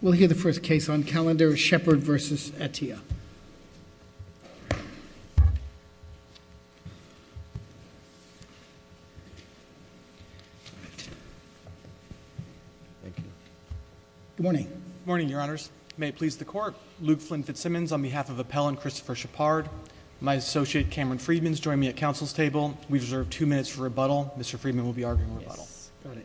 We'll hear the first case on calendar, Shepard v. Attea. Good morning. Good morning, Your Honors. May it please the Court, Luke Flynn Fitzsimmons on behalf of Appell and Christopher Shepard. My associate, Cameron Freedman, is joining me at Council's table. We deserve two minutes for rebuttal. Mr. Freedman will be arguing rebuttal. Yes, got it.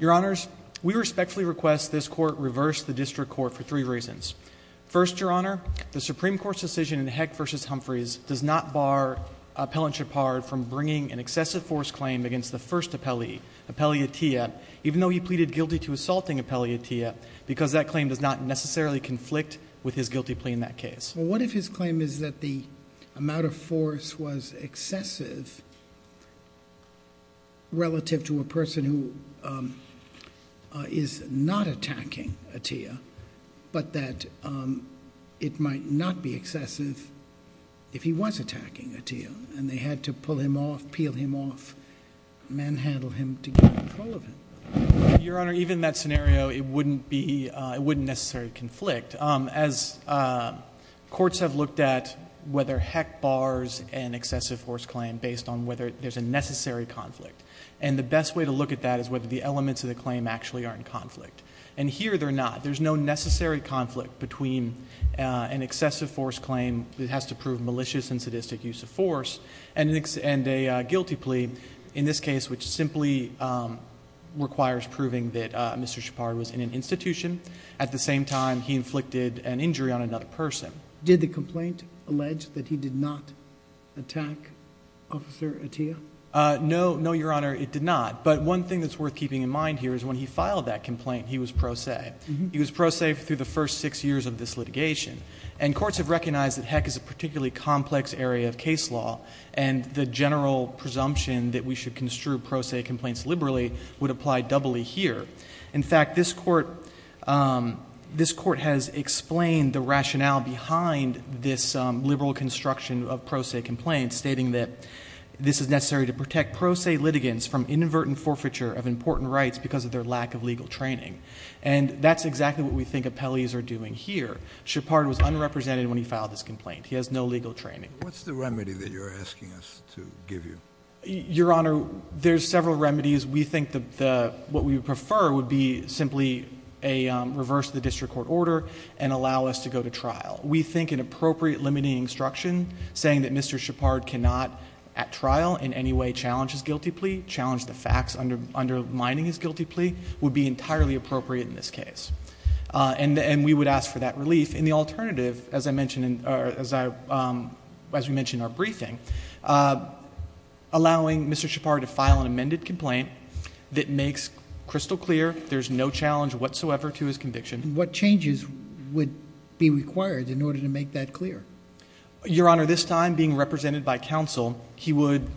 Your Honors, we respectfully request this Court reverse the District Court for three reasons. First, Your Honor, the Supreme Court's decision in Heck v. Humphreys does not bar Appellant Shepard from bringing an excessive force claim against the first appellee, Appellee Attea, even though he pleaded guilty to assaulting Appellee Attea, because that claim does not necessarily conflict with his guilty plea in that case. Well, what if his claim is that the amount of force was excessive relative to a person who is not attacking Attea, but that it might not be excessive if he was attacking Attea, and they had to pull him off, peel him off, manhandle him to get control of him? Your Honor, even in that scenario, it wouldn't necessarily conflict. As courts have looked at whether Heck bars an excessive force claim based on whether there's a necessary conflict. And the best way to look at that is whether the elements of the claim actually are in conflict. And here they're not. There's no necessary conflict between an excessive force claim that has to prove malicious and sadistic use of force and a guilty plea in this case, which simply requires proving that Mr. Shepard was in an institution. At the same time, he inflicted an injury on another person. Did the complaint allege that he did not attack Officer Attea? No, Your Honor, it did not. But one thing that's worth keeping in mind here is when he filed that complaint, he was pro se. He was pro se through the first six years of this litigation. And courts have recognized that Heck is a particularly complex area of case law, and the general presumption that we should construe pro se complaints liberally would apply doubly here. In fact, this court has explained the rationale behind this liberal construction of pro se complaints, stating that this is necessary to protect pro se litigants from inadvertent forfeiture of important rights because of their lack of legal training. And that's exactly what we think appellees are doing here. Shepard was unrepresented when he filed this complaint. He has no legal training. What's the remedy that you're asking us to give you? Your Honor, there's several remedies. We think that what we would prefer would be simply reverse the district court order and allow us to go to trial. We think an appropriate limiting instruction, saying that Mr. Shepard cannot at trial in any way challenge his guilty plea, challenge the facts undermining his guilty plea, would be entirely appropriate in this case. And we would ask for that relief. And the alternative, as I mentioned in our briefing, allowing Mr. Shepard to file an amended complaint that makes crystal clear there's no challenge whatsoever to his conviction. What changes would be required in order to make that clear? Your Honor, this time being represented by counsel, he would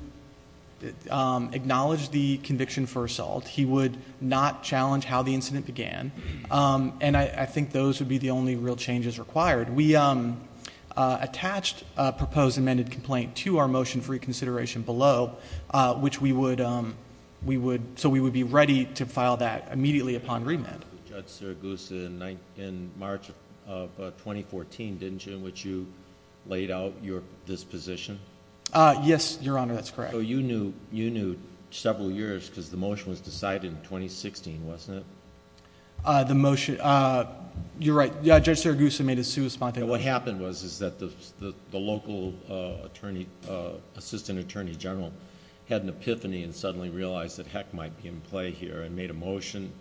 acknowledge the conviction for assault. He would not challenge how the incident began. And I think those would be the only real changes required. We attached a proposed amended complaint to our motion for reconsideration below, so we would be ready to file that immediately upon remand. Judge Serguson, in March of 2014, didn't you, in which you laid out your disposition? Yes, Your Honor, that's correct. So you knew several years because the motion was decided in 2016, wasn't it? The motion, you're right. Judge Serguson made his suit spontaneously. What happened was that the local assistant attorney general had an epiphany and suddenly realized that heck might be in play here and made a motion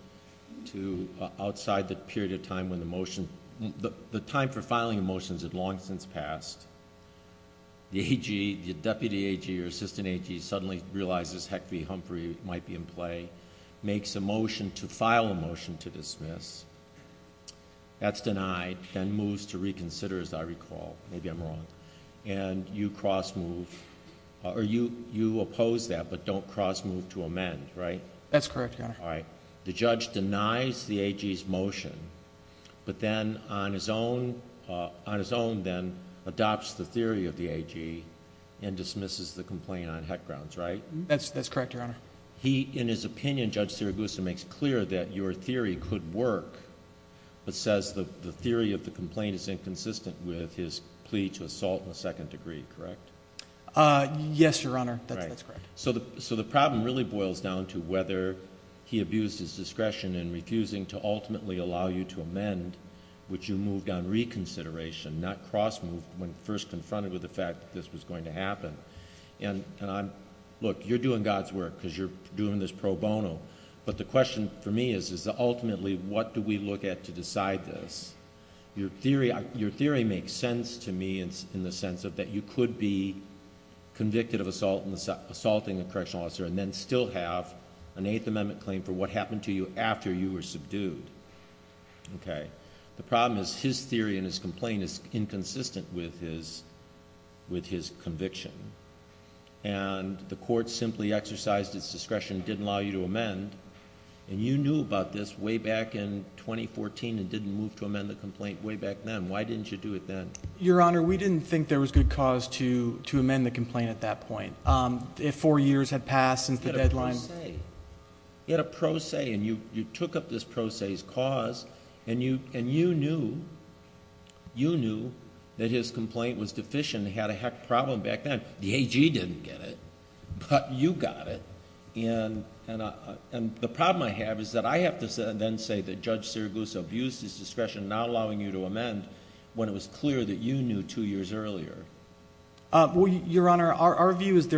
outside the period of time when the motion, the time for filing a motion had long since passed. The AG, the deputy AG or assistant AG suddenly realizes heck V. Humphrey might be in play, makes a motion to file a motion to dismiss. That's denied, then moves to reconsider, as I recall. Maybe I'm wrong. And you cross move, or you oppose that, but don't cross move to amend, right? That's correct, Your Honor. The judge denies the AG's motion, but then on his own then adopts the theory of the AG and dismisses the complaint on heck grounds, right? That's correct, Your Honor. He, in his opinion, Judge Serguson, makes clear that your theory could work, but says the theory of the complaint is inconsistent with his plea to assault in the second degree, correct? Yes, Your Honor, that's correct. So the problem really boils down to whether he abused his discretion in refusing to ultimately allow you to amend, which you moved on reconsideration, not cross moved when first confronted with the fact that this was going to happen. And look, you're doing God's work because you're doing this pro bono, but the question for me is ultimately what do we look at to decide this? Your theory makes sense to me in the sense that you could be convicted of assaulting a correctional officer and then still have an Eighth Amendment claim for what happened to you after you were subdued. The problem is his theory and his complaint is inconsistent with his conviction. And the court simply exercised its discretion and didn't allow you to amend. And you knew about this way back in 2014 and didn't move to amend the complaint way back then. Why didn't you do it then? Your Honor, we didn't think there was good cause to amend the complaint at that point. Four years had passed since the deadline. He had a pro se. He had a pro se, and you took up this pro se's cause, and you knew that his complaint was deficient. He had a heck of a problem back then. The AG didn't get it, but you got it. And the problem I have is that I have to then say that Judge Sirigusa abused his discretion, not allowing you to amend, when it was clear that you knew two years earlier. Your Honor, our view is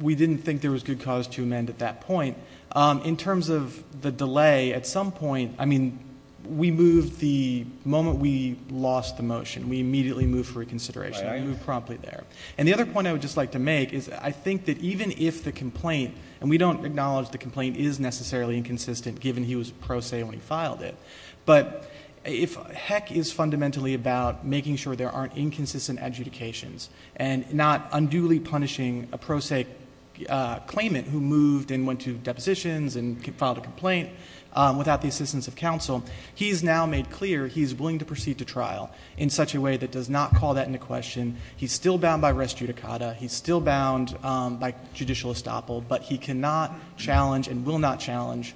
we didn't think there was good cause to amend at that point. In terms of the delay, at some point, I mean, we moved the moment we lost the motion. We immediately moved for reconsideration. We moved promptly there. And the other point I would just like to make is I think that even if the complaint, and we don't acknowledge the complaint is necessarily inconsistent given he was pro se when he filed it, but if heck is fundamentally about making sure there aren't inconsistent adjudications and not unduly punishing a pro se claimant who moved and went to depositions and filed a complaint without the assistance of counsel, he's now made clear he's willing to proceed to trial in such a way that does not call that into question. He's still bound by res judicata. He's still bound by judicial estoppel, but he cannot challenge and will not challenge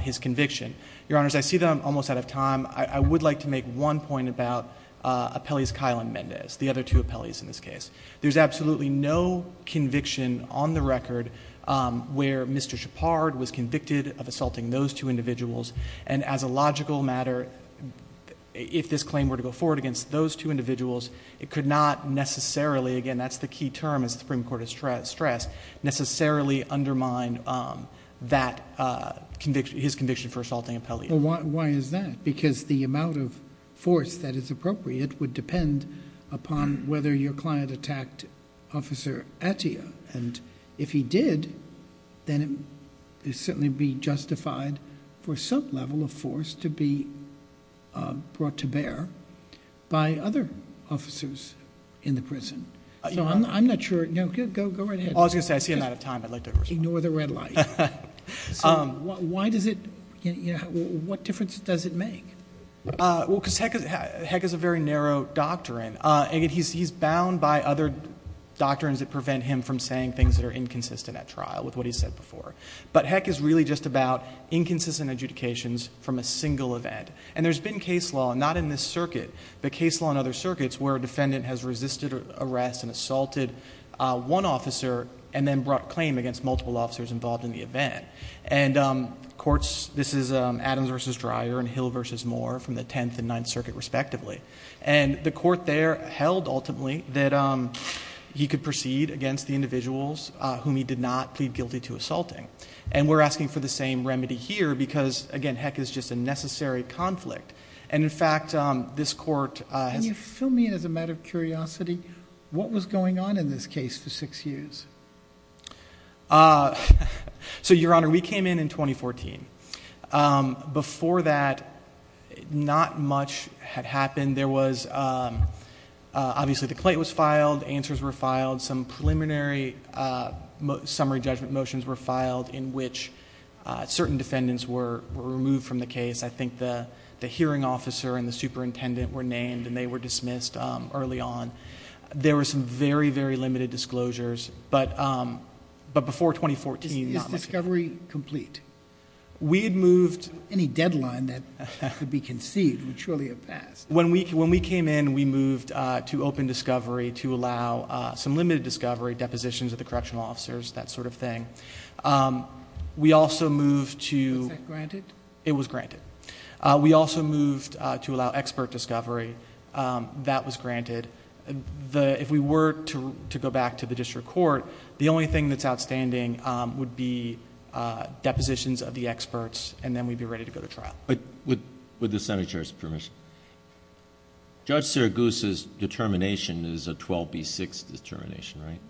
his conviction. Your Honors, I see that I'm almost out of time. I would like to make one point about Appellees Kyle and Mendez, the other two appellees in this case. There's absolutely no conviction on the record where Mr. Shepard was convicted of assaulting those two individuals. And as a logical matter, if this claim were to go forward against those two individuals, it could not necessarily, again, that's the key term as the Supreme Court has stressed, necessarily undermine that conviction, his conviction for assaulting Appellee. Why is that? Because the amount of force that is appropriate would depend upon whether your client attacked Officer Attia. And if he did, then it would certainly be justified for some level of force to be brought to bear by other officers in the prison. So I'm not sure. Go right ahead. I was going to say, I see I'm out of time. Ignore the red light. Why does it, what difference does it make? Well, because Heck is a very narrow doctrine. He's bound by other doctrines that prevent him from saying things that are inconsistent at trial with what he's said before. But Heck is really just about inconsistent adjudications from a single event. And there's been case law, not in this circuit, but case law in other circuits where a defendant has resisted arrest and assaulted one officer and then brought claim against multiple officers involved in the event. And courts, this is Adams v. Dreyer and Hill v. Moore from the Tenth and Ninth Circuit respectively. And the court there held, ultimately, that he could proceed against the individuals whom he did not plead guilty to assaulting. And we're asking for the same remedy here because, again, Heck is just a necessary conflict. And, in fact, this court has- Can you fill me in as a matter of curiosity? What was going on in this case for six years? So, Your Honor, we came in in 2014. Before that, not much had happened. There was, obviously, the claim was filed. Answers were filed. Some preliminary summary judgment motions were filed in which certain defendants were removed from the case. I think the hearing officer and the superintendent were named, and they were dismissed early on. There were some very, very limited disclosures. But before 2014- Is discovery complete? We had moved- Any deadline that could be conceived would surely have passed. When we came in, we moved to open discovery to allow some limited discovery, depositions of the correctional officers, that sort of thing. We also moved to- Was that granted? It was granted. We also moved to allow expert discovery. That was granted. If we were to go back to the district court, the only thing that's outstanding would be depositions of the experts, and then we'd be ready to go to trial. With the senator's permission, Judge Sergus' determination is a 12B6 determination, right?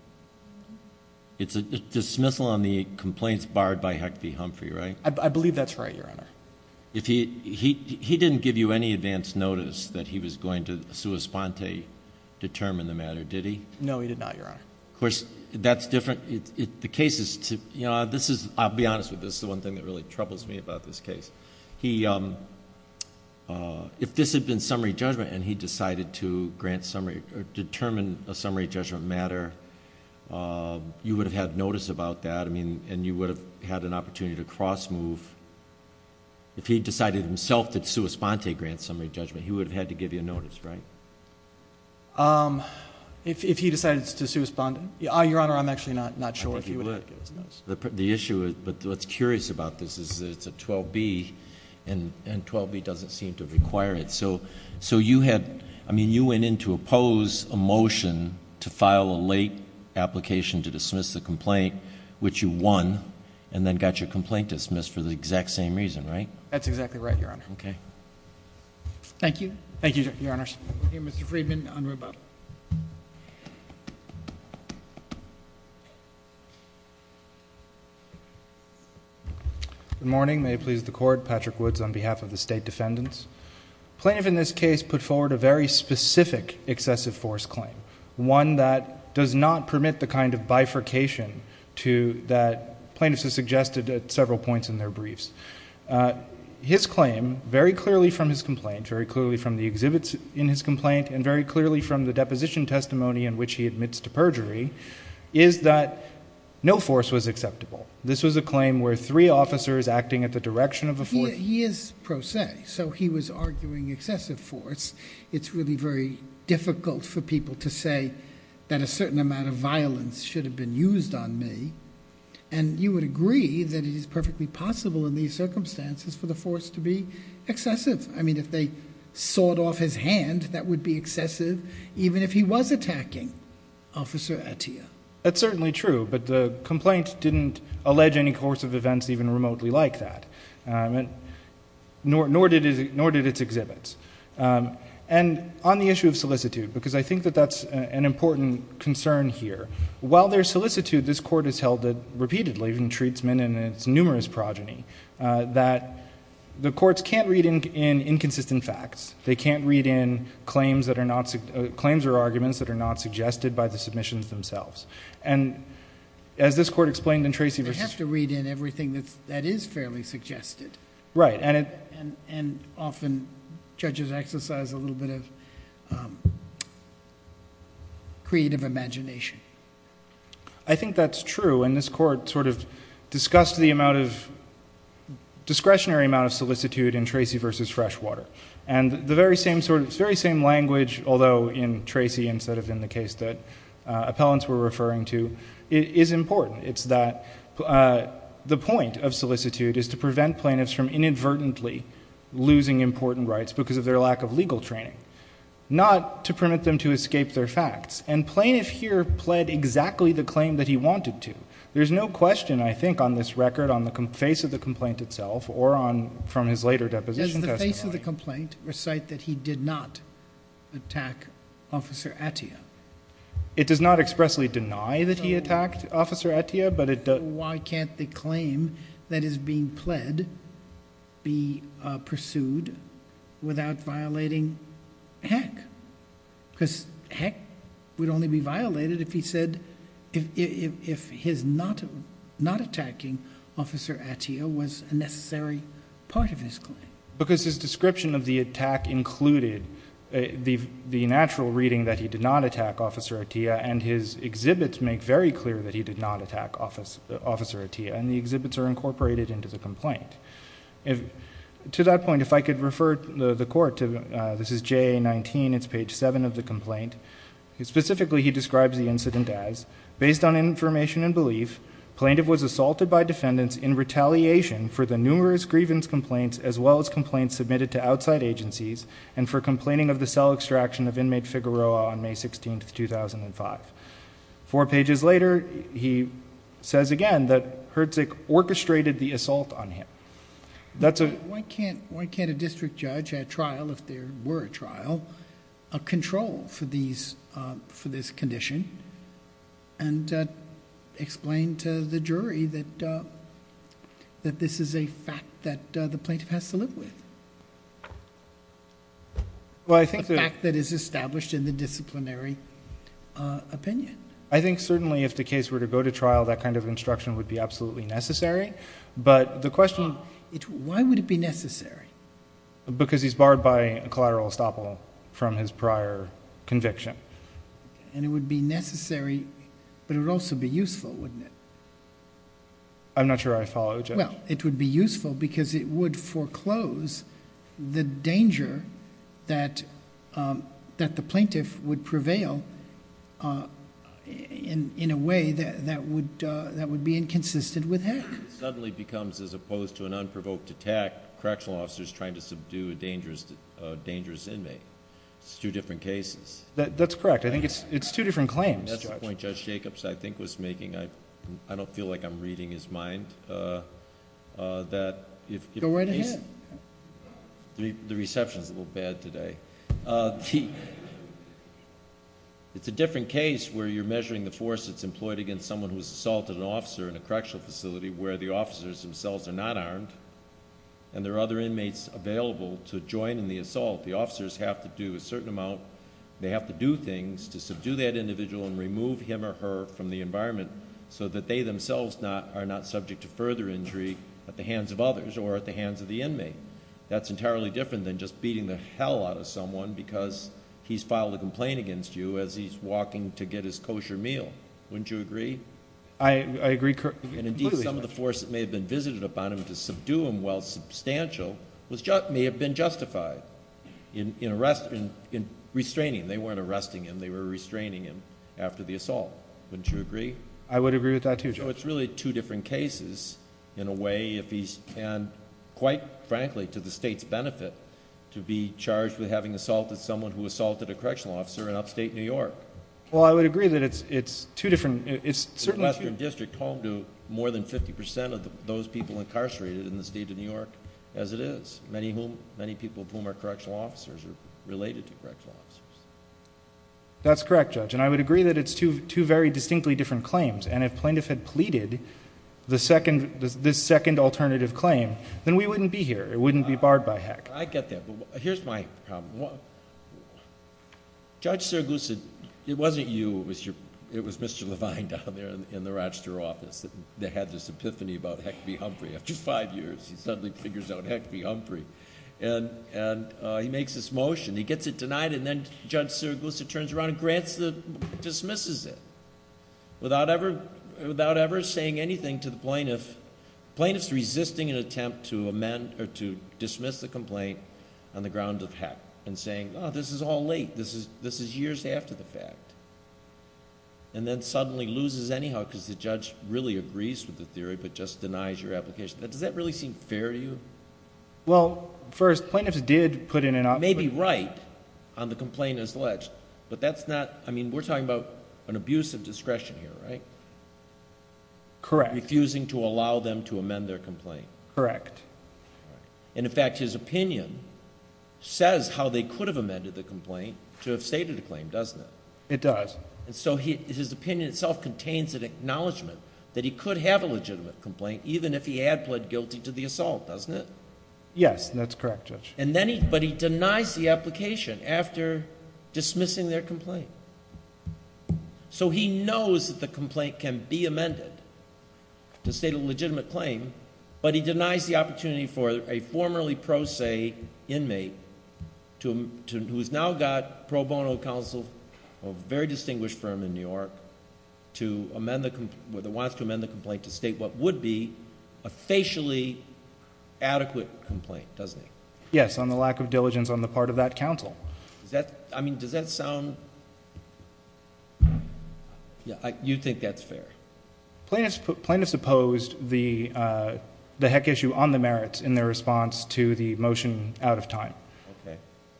It's a dismissal on the complaints barred by Hecht v. Humphrey, right? I believe that's right, Your Honor. He didn't give you any advance notice that he was going to sua sponte determine the matter, did he? No, he did not, Your Honor. Of course, that's different. The case is... I'll be honest with this. It's the one thing that really troubles me about this case. If this had been summary judgment and he decided to determine a summary judgment matter, you would have had notice about that, and you would have had an opportunity to cross-move. If he decided himself to sua sponte grant summary judgment, he would have had to give you notice, right? If he decided to sua sponte? Your Honor, I'm actually not sure if he would have. The issue is... but what's curious about this is that it's a 12B, and 12B doesn't seem to require it. So you had... I mean, you went in to oppose a motion to file a late application to dismiss the complaint, which you won, and then got your complaint dismissed for the exact same reason, right? That's exactly right, Your Honor. Okay. Thank you. Thank you, Your Honors. Okay, Mr. Friedman, on rebuttal. Good morning. May it please the Court. Patrick Woods on behalf of the State Defendants. Plaintiff in this case put forward a very specific excessive force claim, one that does not permit the kind of bifurcation to... that plaintiffs have suggested at several points in their briefs. His claim, very clearly from his complaint, very clearly from the exhibits in his complaint, and very clearly from the deposition testimony in which he admits to perjury, is that no force was acceptable. This was a claim where three officers acting at the direction of a force... He is pro se, so he was arguing excessive force. It's really very difficult for people to say that a certain amount of violence should have been used on me. And, you would agree that it is perfectly possible in these circumstances for the force to be excessive. I mean, if they sawed off his hand, that would be excessive, even if he was attacking Officer Attia. That's certainly true, but the complaint didn't allege any course of events even remotely like that. Nor did its exhibits. And, on the issue of solicitude, because I think that that's an important concern here. While there's solicitude, this Court has held it repeatedly, even in Treatsmen and its numerous progeny, that the courts can't read in inconsistent facts. They can't read in claims that are not... claims or arguments that are not suggested by the submissions themselves. And, as this Court explained in Tracy v... I have to read in everything that is fairly suggested. Right. And, often, judges exercise a little bit of creative imagination. I think that's true. And, this Court sort of discussed the discretionary amount of solicitude in Tracy v. Freshwater. And, the very same language, although in Tracy instead of in the case that appellants were referring to, is important. It's that the point of solicitude is to prevent plaintiffs from inadvertently losing important rights because of their lack of legal training. Not to permit them to escape their facts. And, plaintiff here pled exactly the claim that he wanted to. There's no question, I think, on this record, on the face of the complaint itself, or on... from his later deposition testimony. Does the face of the complaint recite that he did not attack Officer Attia? It does not expressly deny that he attacked Officer Attia, but it... Why can't the claim that is being pled be pursued without violating Heck? Because Heck would only be violated if he said... if his not attacking Officer Attia was a necessary part of his claim. Because his description of the attack included the natural reading that he did not attack Officer Attia. And, his exhibits make very clear that he did not attack Officer Attia. And, the exhibits are incorporated into the complaint. To that point, if I could refer the Court to... this is JA-19. It's page 7 of the complaint. Specifically, he describes the incident as...... and for complaining of the cell extraction of inmate Figueroa on May 16th, 2005. Four pages later, he says again that Herzig orchestrated the assault on him. That's a... Why can't a district judge at trial, if there were a trial, control for these... for this condition? And, explain to the jury that this is a fact that the plaintiff has to live with. Well, I think that... A fact that is established in the disciplinary opinion. I think certainly if the case were to go to trial, that kind of instruction would be absolutely necessary. But, the question... Why would it be necessary? Because he's barred by collateral estoppel from his prior conviction. And, it would be necessary, but it would also be useful, wouldn't it? I'm not sure I follow, Judge. Well, it would be useful because it would foreclose the danger that the plaintiff would prevail in a way that would be inconsistent with Harris. It suddenly becomes, as opposed to an unprovoked attack, correctional officers trying to subdue a dangerous inmate. It's two different cases. That's correct. I think it's two different claims, Judge. That's the point Judge Jacobs, I think, was making. I don't feel like I'm reading his mind. Go right ahead. The reception is a little bad today. It's a different case where you're measuring the force that's employed against someone who has assaulted an officer in a correctional facility, where the officers themselves are not armed, and there are other inmates available to join in the assault. The officers have to do a certain amount, they have to do things to subdue that individual and remove him or her from the environment, so that they themselves are not subject to further injury at the hands of others or at the hands of the inmate. That's entirely different than just beating the hell out of someone because he's filed a complaint against you as he's walking to get his kosher meal. Wouldn't you agree? I agree completely. Indeed, some of the force that may have been visited upon him to subdue him while substantial may have been justified in restraining him. They weren't arresting him, they were restraining him after the assault. Wouldn't you agree? I would agree with that too, Judge. It's really two different cases in a way, and quite frankly to the state's benefit, to be charged with having assaulted someone who assaulted a correctional officer in upstate New York. I would agree that it's two different... The western district home to more than 50% of those people incarcerated in the state of New York as it is. Many people of whom are correctional officers are related to correctional officers. That's correct, Judge, and I would agree that it's two very distinctly different claims, and if plaintiff had pleaded this second alternative claim, then we wouldn't be here. It wouldn't be barred by HEC. I get that, but here's my problem. Judge Serguson, it wasn't you. It was Mr. Levine down there in the Rochester office that had this epiphany about HEC v. Humphrey. After five years, he suddenly figures out HEC v. Humphrey, and he makes this motion. He gets it denied, and then Judge Serguson turns around and dismisses it without ever saying anything to the plaintiff. Plaintiff's resisting an attempt to dismiss the complaint on the grounds of HEC and saying, oh, this is all late, this is years after the fact, and then suddenly loses anyhow because the judge really agrees with the theory but just denies your application. Does that really seem fair to you? Well, first, plaintiffs did put in an... They may be right on the complaint as alleged, but that's not... I mean, we're talking about an abuse of discretion here, right? Correct. Refusing to allow them to amend their complaint. Correct. In fact, his opinion says how they could have amended the complaint to have stated the claim, doesn't it? It does. So his opinion itself contains an acknowledgment that he could have a legitimate complaint even if he had pled guilty to the assault, doesn't it? Yes, that's correct, Judge. But he denies the application after dismissing their complaint. So he knows that the complaint can be amended to state a legitimate claim, but he denies the opportunity for a formerly pro se inmate who has now got pro bono counsel of a very distinguished firm in New York to amend the... wants to amend the complaint to state what would be a facially adequate complaint, doesn't he? Yes, on the lack of diligence on the part of that counsel. I mean, does that sound... you think that's fair? Plaintiffs opposed the heck issue on the merits in their response to the motion out of time.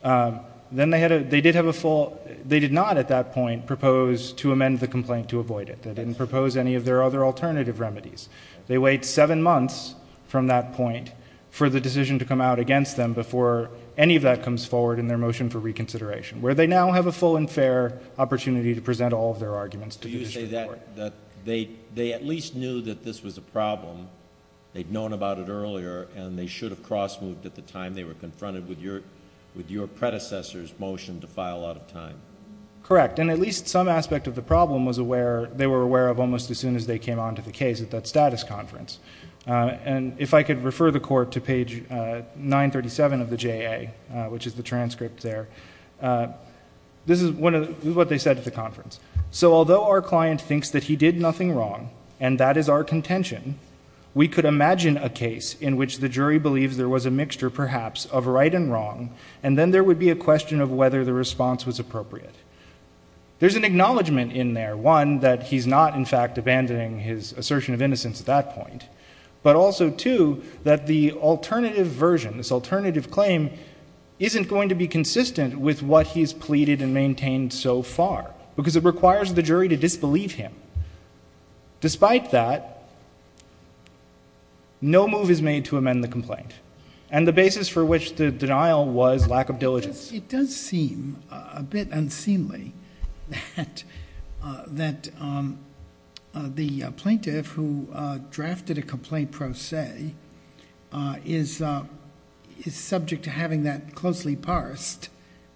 Okay. Then they did have a full... they did not at that point propose to amend the complaint to avoid it. They didn't propose any of their other alternative remedies. They wait seven months from that point for the decision to come out against them before any of that comes forward in their motion for reconsideration, where they now have a full and fair opportunity to present all of their arguments to the district court. Do you say that they at least knew that this was a problem, they'd known about it earlier, and they should have cross-moved at the time they were confronted with your predecessor's motion to file out of time? Correct. And at least some aspect of the problem was aware... they were aware of almost as soon as they came onto the case at that status conference. And if I could refer the Court to page 937 of the JA, which is the transcript there, this is what they said at the conference. So, although our client thinks that he did nothing wrong, and that is our contention, we could imagine a case in which the jury believes there was a mixture, perhaps, of right and wrong, and then there would be a question of whether the response was appropriate. There's an acknowledgment in there, one, that he's not, in fact, abandoning his assertion of innocence at that point, but also, two, that the alternative version, this alternative claim, isn't going to be consistent with what he's pleaded and maintained so far, because it requires the jury to disbelieve him. Despite that, no move is made to amend the complaint, and the basis for which the denial was lack of diligence. It does seem a bit unseemly that the plaintiff who drafted a complaint pro se is subject to having that closely parsed,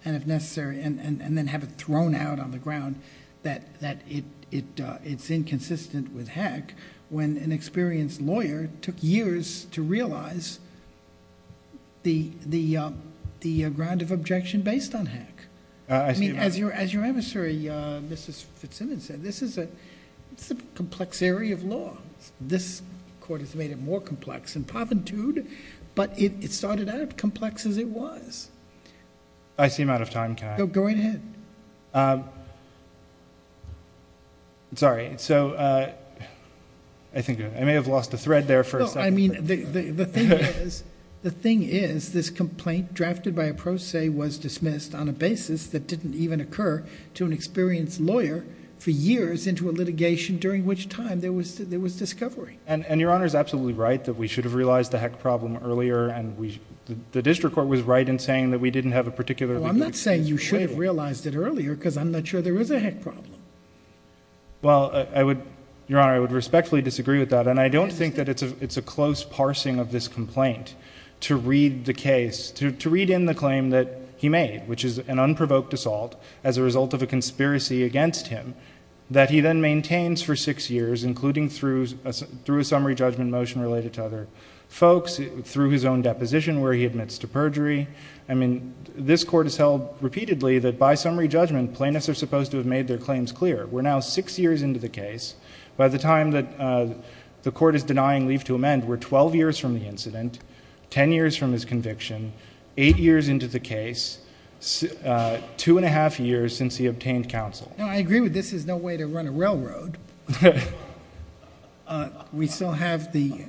and if necessary, and then have it thrown out on the ground, that it's inconsistent with HAC, when an experienced lawyer took years to realize the ground of objection based on HAC. I mean, as your emissary, Mrs. Fitzsimmons, said, this is a complex area of law. This court has made it more complex in poverty, but it started out complex as it was. I seem out of time. Can I? Go ahead. Sorry, so I think I may have lost the thread there for a second. No, I mean, the thing is, this complaint drafted by a pro se was dismissed on a basis that didn't even occur to an experienced lawyer for years into a litigation, during which time there was discovery. And your Honor is absolutely right that we should have realized the HAC problem earlier, and the district court was right in saying that we didn't have a particularly good experience. No, I'm not saying you should have realized it earlier, because I'm not sure there is a HAC problem. Well, your Honor, I would respectfully disagree with that, and I don't think that it's a close parsing of this complaint to read the case, to read in the claim that he made, which is an unprovoked assault, as a result of a conspiracy against him, that he then maintains for six years, including through a summary judgment motion related to other folks, through his own deposition where he admits to perjury. I mean, this court has held repeatedly that by summary judgment, plaintiffs are supposed to have made their claims clear. We're now six years into the case. By the time that the court is denying leave to amend, we're 12 years from the incident, 10 years from his conviction, 8 years into the case, 2 1⁄2 years since he obtained counsel. No, I agree with this is no way to run a railroad. We still have the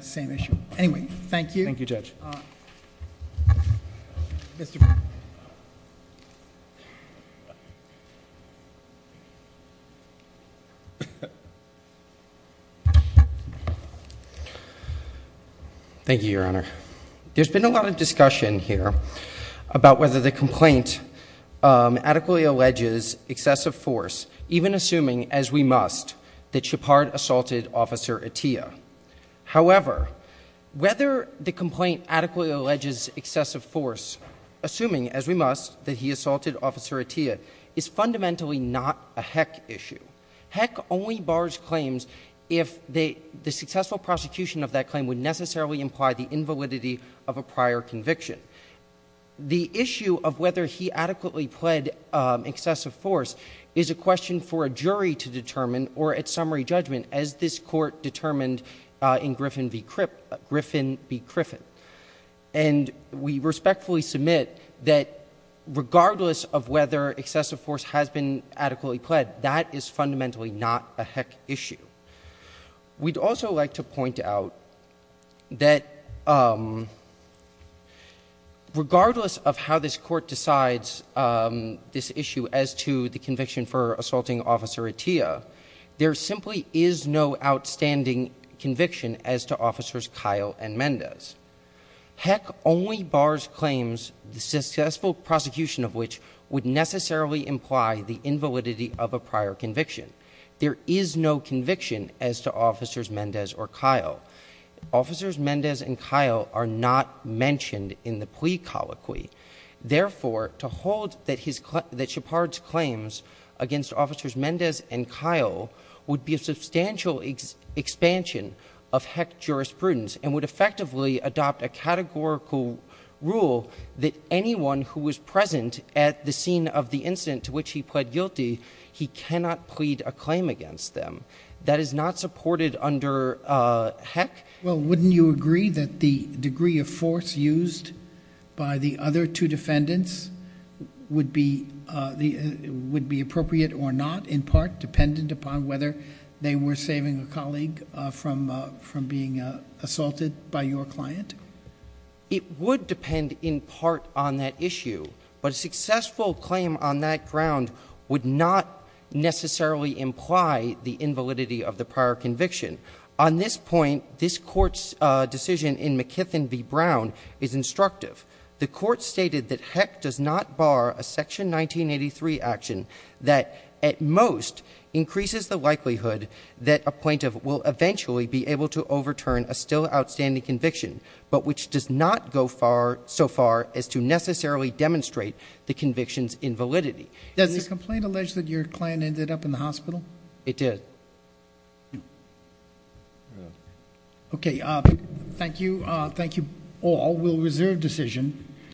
same issue. Anyway, thank you. Thank you, Judge. All right. Thank you, Your Honor. There's been a lot of discussion here about whether the complaint adequately alleges excessive force, even assuming, as we must, that Shepard assaulted Officer Atiyah. However, whether the complaint adequately alleges excessive force, assuming, as we must, that he assaulted Officer Atiyah, is fundamentally not a Heck issue. Heck only bars claims if the successful prosecution of that claim would necessarily imply the invalidity of a prior conviction. The issue of whether he adequately pled excessive force is a question for a jury to determine or at summary judgment as this court determined in Griffin v. Criffin. And we respectfully submit that regardless of whether excessive force has been adequately pled, that is fundamentally not a Heck issue. We'd also like to point out that regardless of how this court decides this issue as to the conviction for assaulting Officer Atiyah, there simply is no outstanding conviction as to Officers Kyle and Mendez. Heck only bars claims, the successful prosecution of which would necessarily imply the invalidity of a prior conviction. There is no conviction as to Officers Mendez or Kyle. Officers Mendez and Kyle are not mentioned in the plea colloquy. Therefore, to hold that Shepard's claims against Officers Mendez and Kyle would be a substantial expansion of Heck jurisprudence and would effectively adopt a categorical rule that anyone who was present at the scene of the incident to which he pled guilty, he cannot plead a claim against them. That is not supported under Heck. Well, wouldn't you agree that the degree of force used by the other two defendants would be appropriate or not, in part dependent upon whether they were saving a colleague from being assaulted by your client? It would depend in part on that issue. But a successful claim on that ground would not necessarily imply the invalidity of the prior conviction. On this point, this Court's decision in McKithen v. Brown is instructive. The Court stated that Heck does not bar a Section 1983 action that at most increases the likelihood that a plaintiff will eventually be able to overturn a still outstanding conviction, but which does not go so far as to necessarily demonstrate the conviction's invalidity. Does the complaint allege that your client ended up in the hospital? It did. Okay. Thank you. Thank you all. We'll reserve decision.